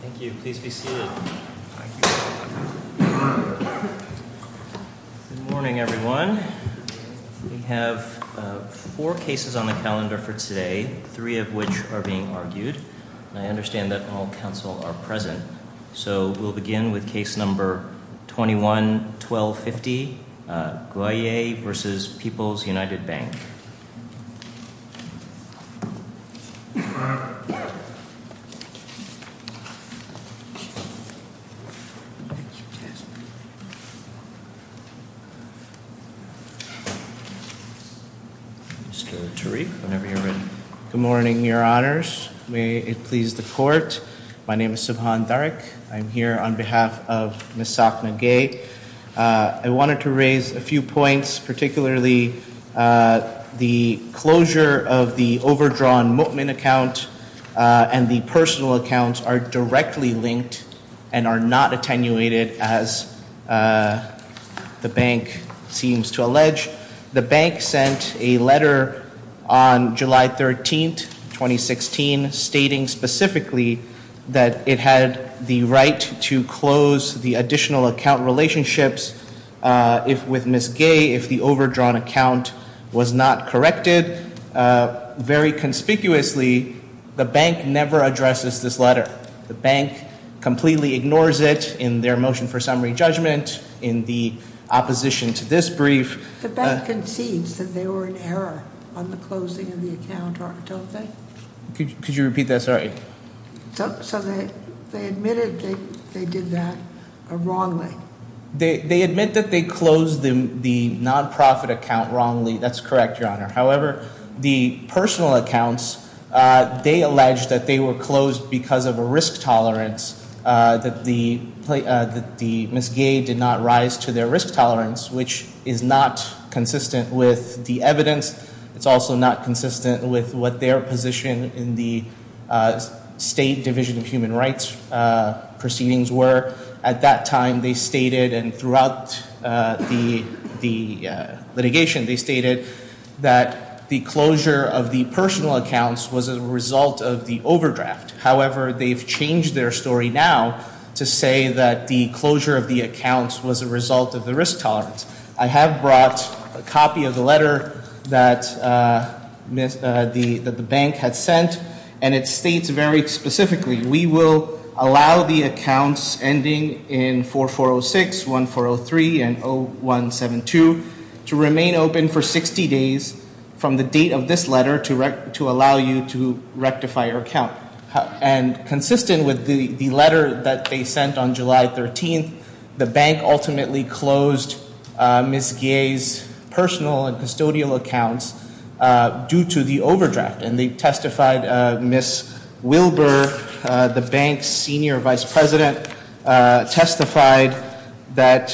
Thank you. Please be seated. Good morning everyone. We have four cases on the calendar for today, three of which are being argued. I understand that all counsel are present, so we'll begin with case number 21-1250, Gwye v. People's United Bank. Mr. Tariq, whenever you're ready. Good morning, your honors. May it please the court. My name is Subhan Dariq. I'm here on behalf of Ms. Sakna Gaye. I wanted to raise a few points, particularly the closure of the overdrawn Mokmin account and the personal accounts are directly linked and are not attenuated as the bank seems to allege. The bank sent a letter on July 13, 2016, stating specifically that it had the right to close the additional account relationships with Ms. Gaye if the overdrawn account was not corrected. Very conspicuously, the bank never addresses this letter. The bank completely ignores it in their motion for summary judgment, in the opposition to this brief. The bank concedes that they were in error on the closing of the account, don't they? Could you repeat that? Sorry. So they admitted they did that wrongly. They admit that they closed the nonprofit account wrongly. That's correct, your honor. However, the personal accounts, they allege that they were closed because of a risk tolerance that the Ms. Gaye did not rise to their risk tolerance, which is not consistent with the evidence. It's also not consistent with what their position in the State Division of Human Rights proceedings were. At that time, they stated and throughout the litigation, they stated that the closure of the personal accounts was a result of the overdraft. However, they've changed their story now to say that the closure of the accounts was a result of the risk tolerance. I have brought a copy of the letter that the bank had sent, and it states very specifically, We will allow the accounts ending in 4406, 1403, and 0172 to remain open for 60 days from the date of this letter to allow you to rectify your account. And consistent with the letter that they sent on July 13th, the bank ultimately closed Ms. Gaye's personal and custodial accounts due to the overdraft. And they testified Ms. Wilbur, the bank's senior vice president, testified that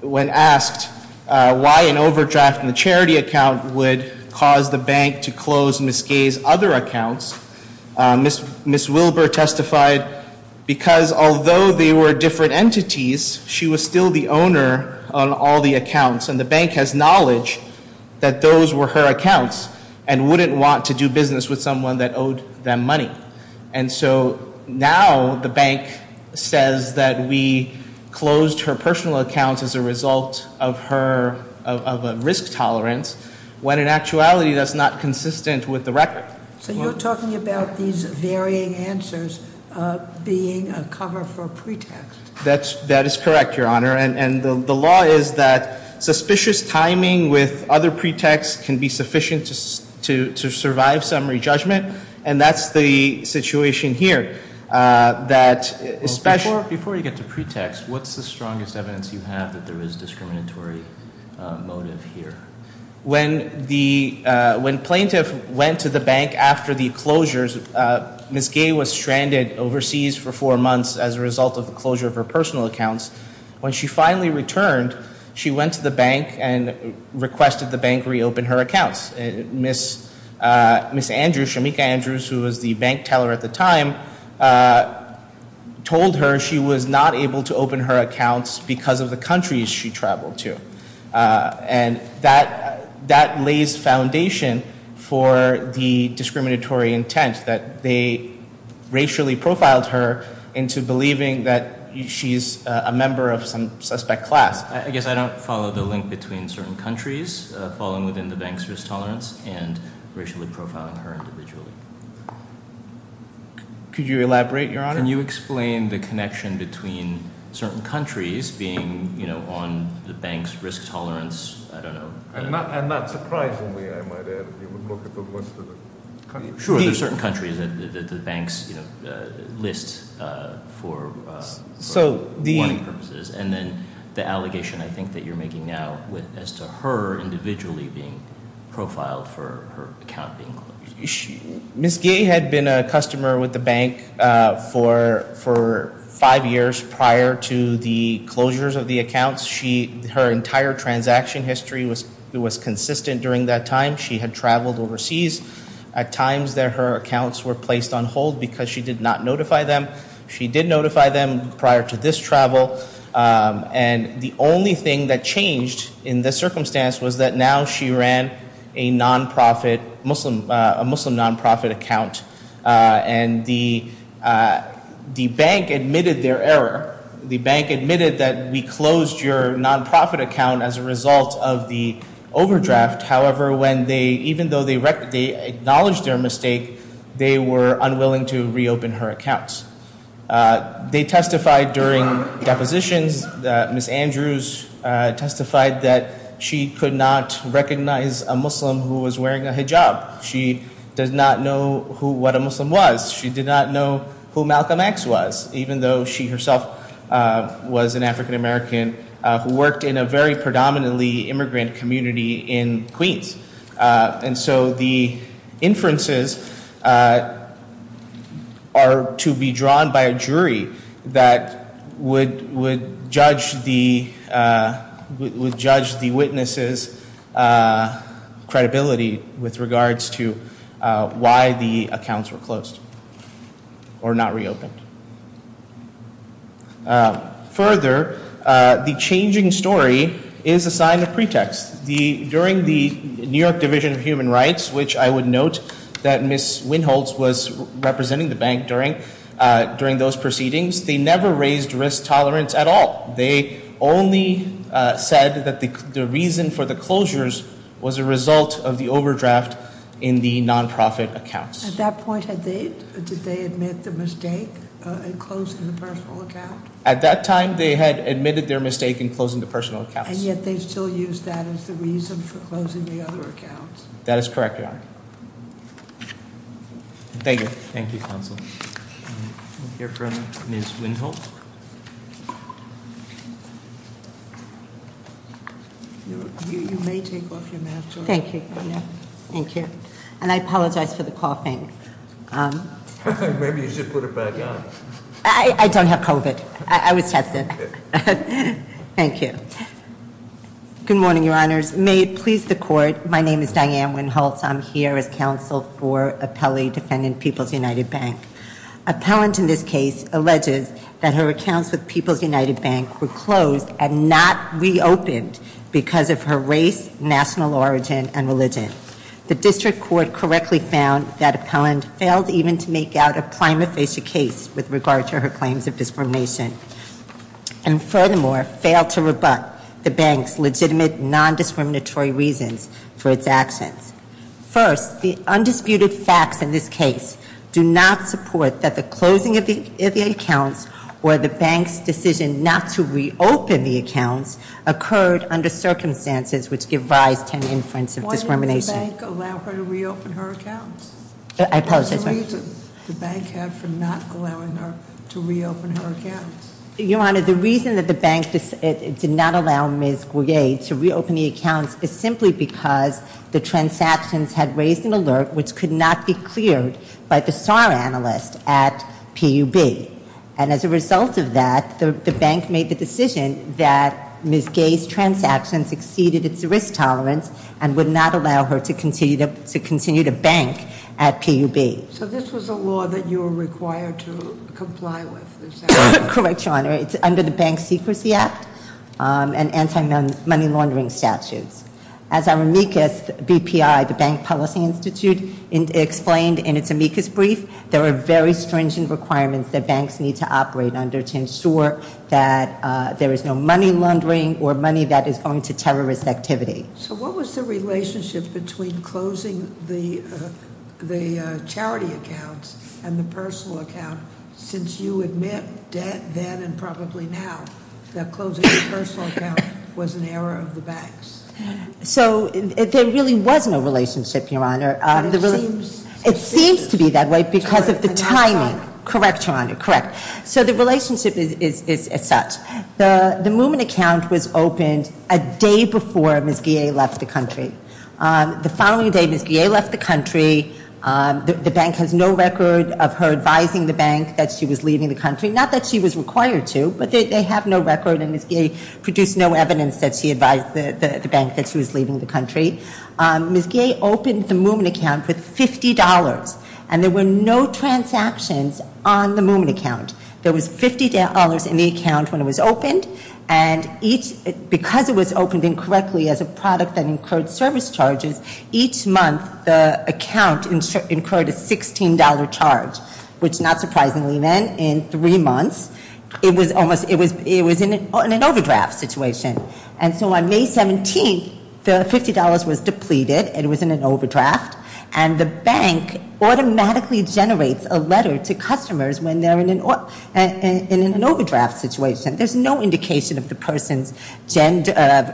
when asked why an overdraft in the charity account would cause the bank to close Ms. Gaye's other accounts, Ms. Wilbur testified because although they were different entities, she was still the owner on all the accounts. And the bank has knowledge that those were her accounts and wouldn't want to do business with someone that owed them money. And so now the bank says that we closed her personal accounts as a result of a risk tolerance, when in actuality that's not consistent with the record. So you're talking about these varying answers being a cover for pretext. That is correct, Your Honor. And the law is that suspicious timing with other pretexts can be sufficient to survive summary judgment. And that's the situation here. Before you get to pretext, what's the strongest evidence you have that there is discriminatory motive here? When plaintiff went to the bank after the closures, Ms. Gaye was stranded overseas for four months as a result of the closure of her personal accounts. When she finally returned, she went to the bank and requested the bank reopen her accounts. Ms. Andrews, Shamika Andrews, who was the bank teller at the time, told her she was not able to open her accounts because of the countries she traveled to. And that lays foundation for the discriminatory intent that they racially profiled her into believing that she's a member of some suspect class. I guess I don't follow the link between certain countries falling within the bank's risk tolerance and racially profiling her individually. Can you explain the connection between certain countries being on the bank's risk tolerance? I don't know. And not surprisingly, I might add, if you would look at the list of the countries. Sure, there are certain countries that the banks list for money purposes. And then the allegation I think that you're making now as to her individually being profiled for her account being closed. Ms. Gay had been a customer with the bank for five years prior to the closures of the accounts. Her entire transaction history was consistent during that time. She had traveled overseas at times that her accounts were placed on hold because she did not notify them. She did notify them prior to this travel. And the only thing that changed in this circumstance was that now she ran a non-profit, a Muslim non-profit account. And the bank admitted their error. The bank admitted that we closed your non-profit account as a result of the overdraft. However, even though they acknowledged their mistake, they were unwilling to reopen her accounts. They testified during depositions that Ms. Andrews testified that she could not recognize a Muslim who was wearing a hijab. She does not know what a Muslim was. She did not know who Malcolm X was, even though she herself was an African American who worked in a very predominantly immigrant community in Queens. And so the inferences are to be drawn by a jury that would judge the witnesses' credibility with regards to why the accounts were closed or not reopened. Further, the changing story is a sign of pretext. During the New York Division of Human Rights, which I would note that Ms. Winholz was representing the bank during those proceedings, they never raised risk tolerance at all. They only said that the reason for the closures was a result of the overdraft in the non-profit accounts. At that point, did they admit the mistake in closing the personal account? At that time, they had admitted their mistake in closing the personal accounts. And yet they still used that as the reason for closing the other accounts. That is correct, Your Honor. Thank you. Thank you, Counsel. We'll hear from Ms. Winholz. You may take off your mask, Your Honor. Thank you. Thank you. And I apologize for the coughing. Maybe you should put it back on. I don't have COVID. I was tested. Thank you. Good morning, Your Honors. May it please the Court, my name is Diane Winholz. I'm here as counsel for appellee defending People's United Bank. Appellant in this case alleges that her accounts with People's United Bank were closed and not reopened because of her race, national origin, and religion. The district court correctly found that appellant failed even to make out a prima facie case with regard to her claims of discrimination. And furthermore, failed to rebut the bank's legitimate non-discriminatory reasons for its actions. First, the undisputed facts in this case do not support that the closing of the accounts or the bank's decision not to reopen the accounts occurred under circumstances which give rise to an inference of discrimination. Did the bank allow her to reopen her accounts? I apologize, Your Honor. What's the reason the bank had for not allowing her to reopen her accounts? Your Honor, the reason that the bank did not allow Ms. Goyer to reopen the accounts is simply because the transactions had raised an alert which could not be cleared by the SAR analyst at PUB. And as a result of that, the bank made the decision that Ms. Goyer's transactions exceeded its risk tolerance and would not allow her to continue to bank at PUB. So this was a law that you were required to comply with? Correct, Your Honor. It's under the Bank Secrecy Act and anti-money laundering statutes. As our amicus BPI, the Bank Policy Institute, explained in its amicus brief, there are very stringent requirements that banks need to operate under to ensure that there is no money laundering or money that is going to terrorist activity. So what was the relationship between closing the charity accounts and the personal account since you admit then and probably now that closing the personal account was an error of the banks? So there really was no relationship, Your Honor. But it seems- It seems to be that way because of the timing. Correct, Your Honor, correct. So the relationship is as such. The Moomin account was opened a day before Ms. Goyer left the country. The following day, Ms. Goyer left the country. The bank has no record of her advising the bank that she was leaving the country, not that she was required to, but they have no record and Ms. Goyer produced no evidence that she advised the bank that she was leaving the country. Ms. Goyer opened the Moomin account with $50 and there were no transactions on the Moomin account. There was $50 in the account when it was opened and each- because it was opened incorrectly as a product that incurred service charges, each month the account incurred a $16 charge, which not surprisingly then in three months, it was in an overdraft situation. And so on May 17th, the $50 was depleted. It was in an overdraft. And the bank automatically generates a letter to customers when they're in an overdraft situation. There's no indication of the person's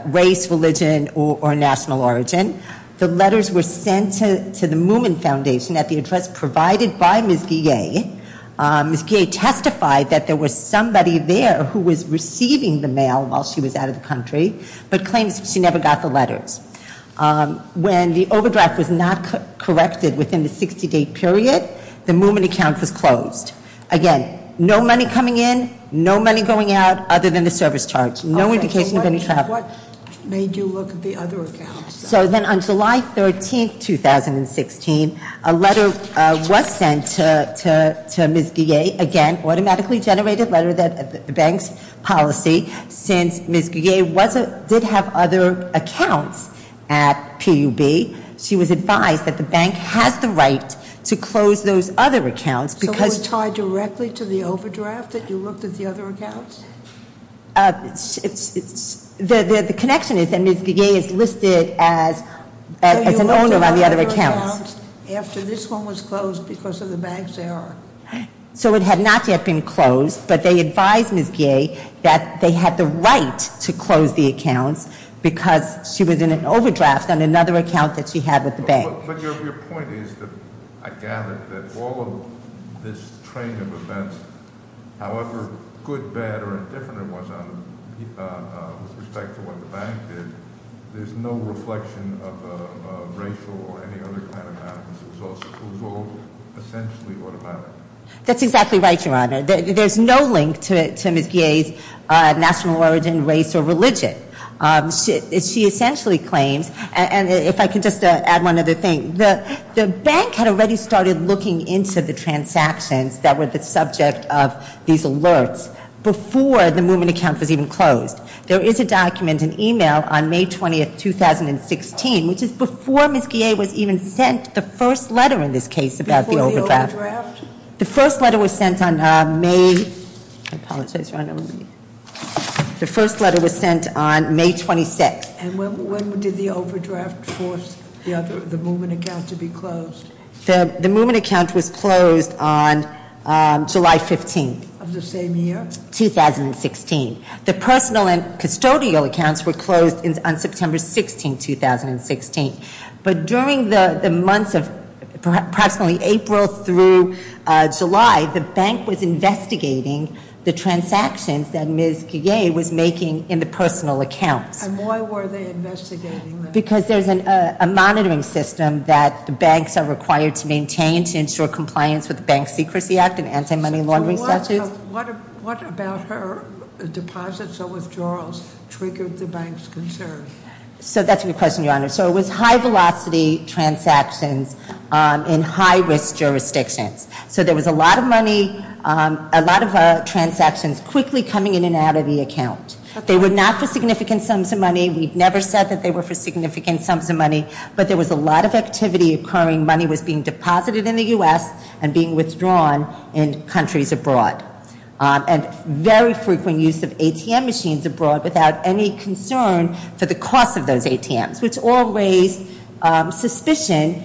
race, religion, or national origin. The letters were sent to the Moomin Foundation at the address provided by Ms. Goyer. Ms. Goyer testified that there was somebody there who was receiving the mail while she was out of the country, but claims she never got the letters. When the overdraft was not corrected within the 60-day period, the Moomin account was closed. Again, no money coming in, no money going out other than the service charge. No indication of any traffic. What made you look at the other accounts? So then on July 13th, 2016, a letter was sent to Ms. Goyer. Again, automatically generated letter that the bank's policy since Ms. Goyer did have other accounts at PUB, she was advised that the bank has the right to close those other accounts because- So it was tied directly to the overdraft that you looked at the other accounts? The connection is that Ms. Goyer is listed as an owner on the other accounts. So you looked at other accounts after this one was closed because of the bank's error? So it had not yet been closed, but they advised Ms. Goyer that they had the right to close the accounts because she was in an overdraft on another account that she had with the bank. But your point is that I gather that all of this train of events, however good, bad, or indifferent it was with respect to what the bank did, there's no reflection of racial or any other kind of madness. It was all essentially automatic. That's exactly right, Your Honor. There's no link to Ms. Goyer's national origin, race, or religion. She essentially claims, and if I could just add one other thing, the bank had already started looking into the transactions that were the subject of these alerts before the movement account was even closed. There is a document, an email, on May 20th, 2016, which is before Ms. Goyer was even sent the first letter in this case about the overdraft. Before the overdraft? The first letter was sent on May, I apologize, Your Honor. The first letter was sent on May 26th. And when did the overdraft force the movement account to be closed? The movement account was closed on July 15th. Of the same year? 2016. The personal and custodial accounts were closed on September 16th, 2016. But during the months of approximately April through July, the bank was investigating the transactions that Ms. Goyer was making in the personal accounts. And why were they investigating them? Because there's a monitoring system that banks are required to maintain to ensure compliance with the Bank Secrecy Act and anti-money laundering statutes. So what about her deposits or withdrawals triggered the bank's concern? So that's a good question, Your Honor. So it was high-velocity transactions in high-risk jurisdictions. So there was a lot of money, a lot of transactions quickly coming in and out of the account. They were not for significant sums of money. We've never said that they were for significant sums of money. But there was a lot of activity occurring. Money was being deposited in the U.S. and being withdrawn in countries abroad. And very frequent use of ATM machines abroad without any concern for the cost of those ATMs, which all raised suspicion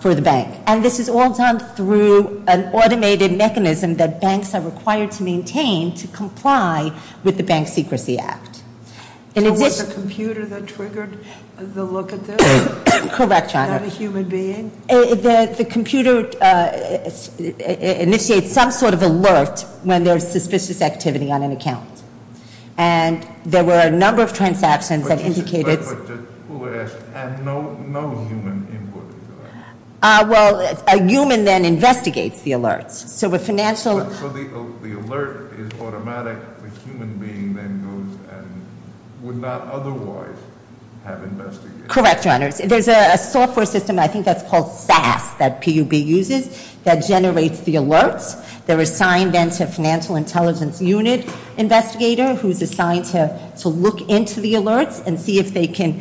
for the bank. And this is all done through an automated mechanism that banks are required to maintain to comply with the Bank Secrecy Act. So was the computer that triggered the look at this? Correct, Your Honor. Not a human being? The computer initiates some sort of alert when there's suspicious activity on an account. And there were a number of transactions that indicated- Who asked? No human input. Well, a human then investigates the alerts. So the alert is automatic. The human being then goes and would not otherwise have investigated. Correct, Your Honor. There's a software system, I think that's called SAS, that PUB uses that generates the alerts. They're assigned then to a financial intelligence unit investigator who's assigned to look into the alerts and see if they can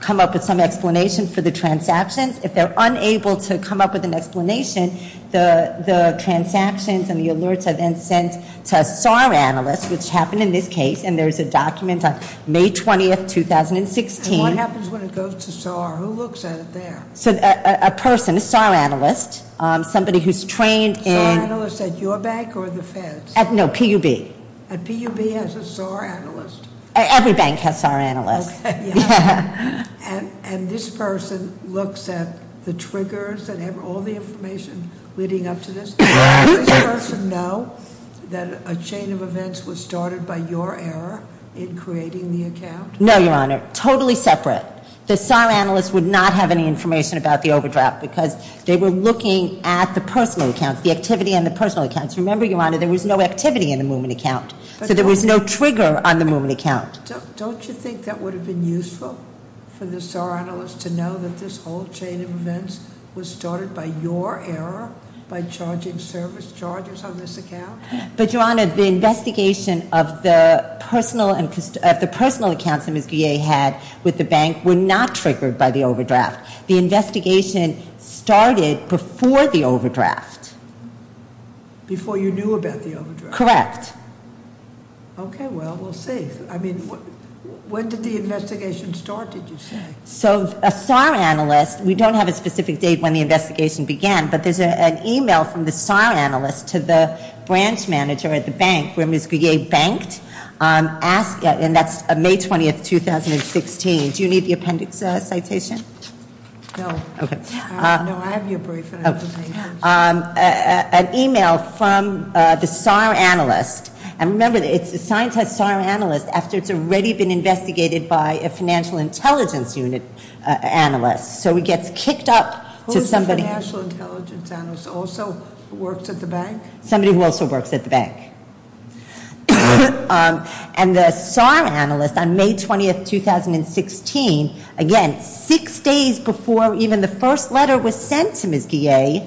come up with some explanation for the transactions. If they're unable to come up with an explanation, the transactions and the alerts are then sent to a SAR analyst, which happened in this case, and there's a document on May 20, 2016. And what happens when it goes to SAR? Who looks at it there? A person, a SAR analyst, somebody who's trained in- A SAR analyst at your bank or the Fed's? No, PUB. And PUB has a SAR analyst? Every bank has SAR analysts. Okay, yeah. And this person looks at the triggers that have all the information leading up to this? Does this person know that a chain of events was started by your error in creating the account? No, Your Honor. Totally separate. The SAR analyst would not have any information about the overdraft because they were looking at the personal accounts, the activity in the personal accounts. Remember, Your Honor, there was no activity in the movement account, so there was no trigger on the movement account. Don't you think that would have been useful for the SAR analyst to know that this whole chain of events was started by your error by charging service charges on this account? But, Your Honor, the investigation of the personal accounts that Ms. Guillet had with the bank were not triggered by the overdraft. The investigation started before the overdraft. Before you knew about the overdraft? Correct. Okay, well, we'll see. I mean, when did the investigation start, did you say? So, a SAR analyst, we don't have a specific date when the investigation began, but there's an email from the SAR analyst to the branch manager at the bank where Ms. Guillet banked, and that's May 20th, 2016. Do you need the appendix citation? No. Okay. No, I have your brief, and I don't need it. An email from the SAR analyst, and remember, it's assigned to a SAR analyst after it's already been investigated by a financial intelligence unit analyst, so it gets kicked up to somebody. A financial intelligence analyst also works at the bank? Somebody who also works at the bank. And the SAR analyst on May 20th, 2016, again, six days before even the first letter was sent to Ms. Guillet,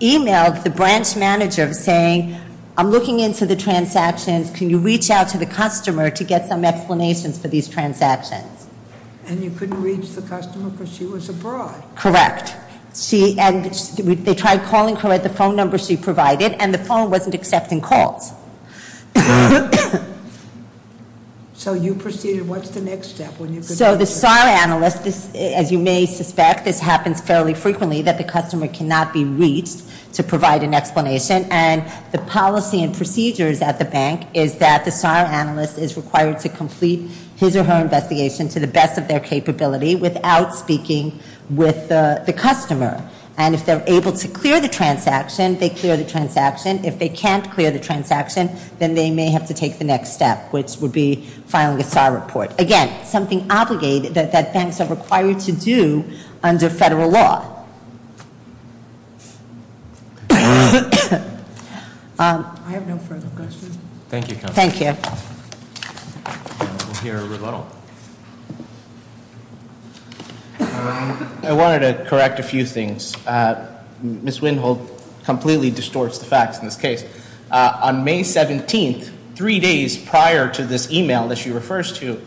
emailed the branch manager saying, I'm looking into the transactions, can you reach out to the customer to get some explanations for these transactions? And you couldn't reach the customer because she was abroad? Correct. And they tried calling her at the phone number she provided, and the phone wasn't accepting calls. So you proceeded, what's the next step? So the SAR analyst, as you may suspect, this happens fairly frequently that the customer cannot be reached to provide an explanation, and the policy and procedures at the bank is that the SAR analyst is required to complete his or her investigation to the best of their capability without speaking with the customer. And if they're able to clear the transaction, they clear the transaction. If they can't clear the transaction, then they may have to take the next step, which would be filing a SAR report. Again, something obligated that banks are required to do under federal law. I have no further questions. Thank you, counsel. Thank you. We'll hear a rebuttal. I wanted to correct a few things. Ms. Winhold completely distorts the facts in this case. On May 17th, three days prior to this e-mail that she refers to,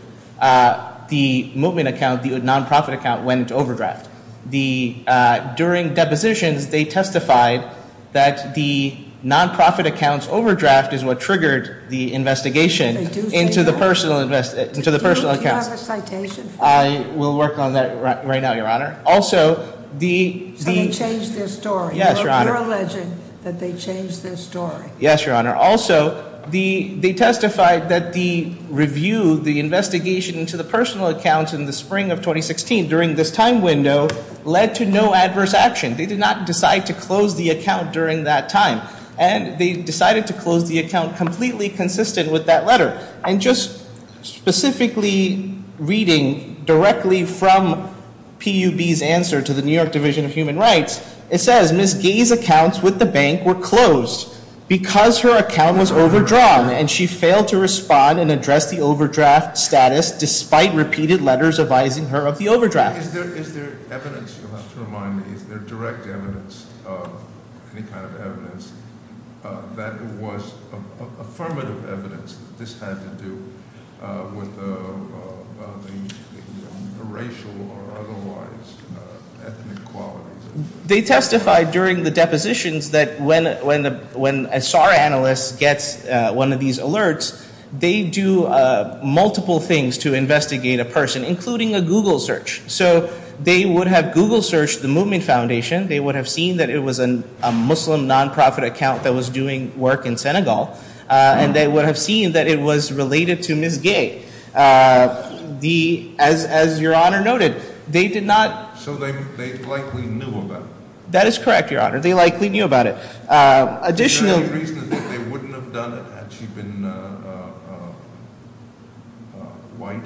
the movement account, the nonprofit account, went into overdraft. During depositions, they testified that the nonprofit account's overdraft is what triggered the investigation into the personal account. Do you have a citation for that? I will work on that right now, Your Honor. So they changed their story. Yes, Your Honor. You're alleging that they changed their story. Yes, Your Honor. Also, they testified that the review, the investigation into the personal account in the spring of 2016 during this time window led to no adverse action. They did not decide to close the account during that time. And they decided to close the account completely consistent with that letter. And just specifically reading directly from PUB's answer to the New York Division of Human Rights, it says, Ms. Gay's accounts with the bank were closed because her account was overdrawn and she failed to respond and address the overdraft status despite repeated letters advising her of the overdraft. Is there evidence, you'll have to remind me, is there direct evidence of any kind of evidence that was affirmative evidence that this had to do with the racial or otherwise ethnic qualities? They testified during the depositions that when a SAR analyst gets one of these alerts, they do multiple things to investigate a person, including a Google search. So they would have Google searched the Movement Foundation. They would have seen that it was a Muslim nonprofit account that was doing work in Senegal. And they would have seen that it was related to Ms. Gay. As Your Honor noted, they did not So they likely knew about it. That is correct, Your Honor. They likely knew about it. The only reason is that they wouldn't have done it had she been white.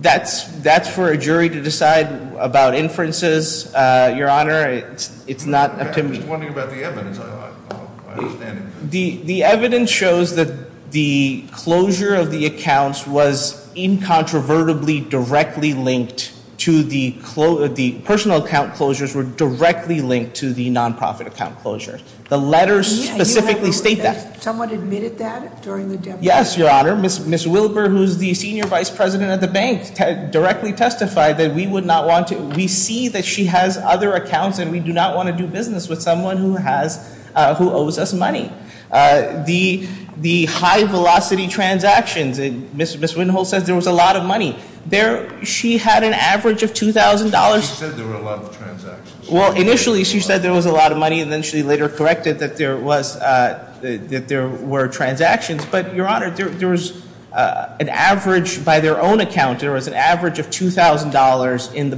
That's for a jury to decide about inferences, Your Honor. It's not up to me. I'm just wondering about the evidence. The evidence shows that the closure of the accounts was incontrovertibly directly linked to the personal account closures were directly linked to the nonprofit account closure. The letters specifically state that. Someone admitted that during the deposition? Yes, Your Honor. Ms. Wilber, who is the senior vice president of the bank, directly testified that we would not want to We see that she has other accounts and we do not want to do business with someone who owes us money. The high velocity transactions, Ms. Wittenholt said there was a lot of money. She had an average of $2,000. She said there were a lot of transactions. Well, initially she said there was a lot of money and then she later corrected that there were transactions. But, Your Honor, there was an average by their own account. There was an average of $2,000 in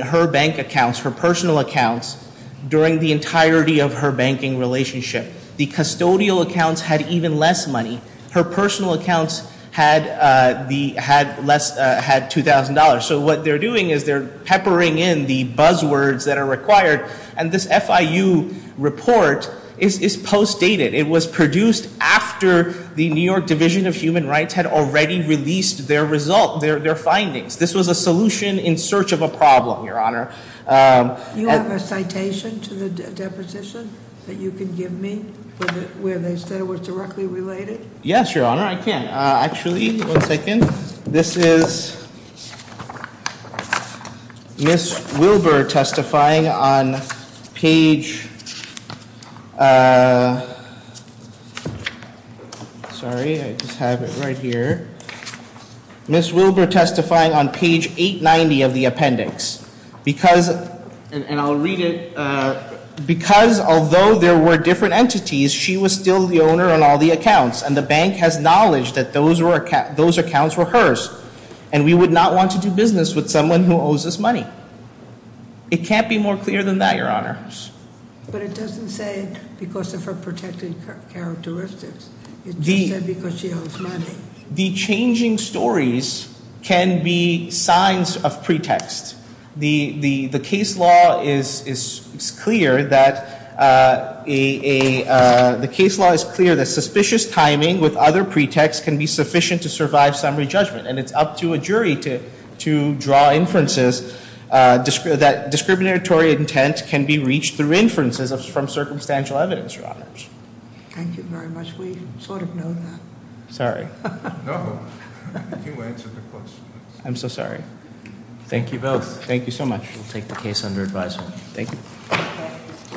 her bank accounts, her personal accounts, during the entirety of her banking relationship. The custodial accounts had even less money. Her personal accounts had $2,000. So what they're doing is they're peppering in the buzzwords that are required. And this FIU report is post dated. It was produced after the New York Division of Human Rights had already released their findings. This was a solution in search of a problem, Your Honor. Do you have a citation to the deposition that you can give me where they said it was directly related? Yes, Your Honor, I can. Actually, one second. This is Ms. Wilbur testifying on page, sorry, I just have it right here. Ms. Wilbur testifying on page 890 of the appendix. And I'll read it. Because although there were different entities, she was still the owner on all the accounts. And the bank has knowledge that those accounts were hers. And we would not want to do business with someone who owes us money. It can't be more clear than that, Your Honor. But it doesn't say because of her protected characteristics. It just said because she owes money. The changing stories can be signs of pretext. The case law is clear that suspicious timing with other pretexts can be sufficient to survive summary judgment. And it's up to a jury to draw inferences that discriminatory intent can be reached through inferences from circumstantial evidence, Your Honors. Thank you very much. We sort of know that. Sorry. No, you answered the question. I'm so sorry. Thank you both. Thank you so much. We'll take the case under advisement. Thank you.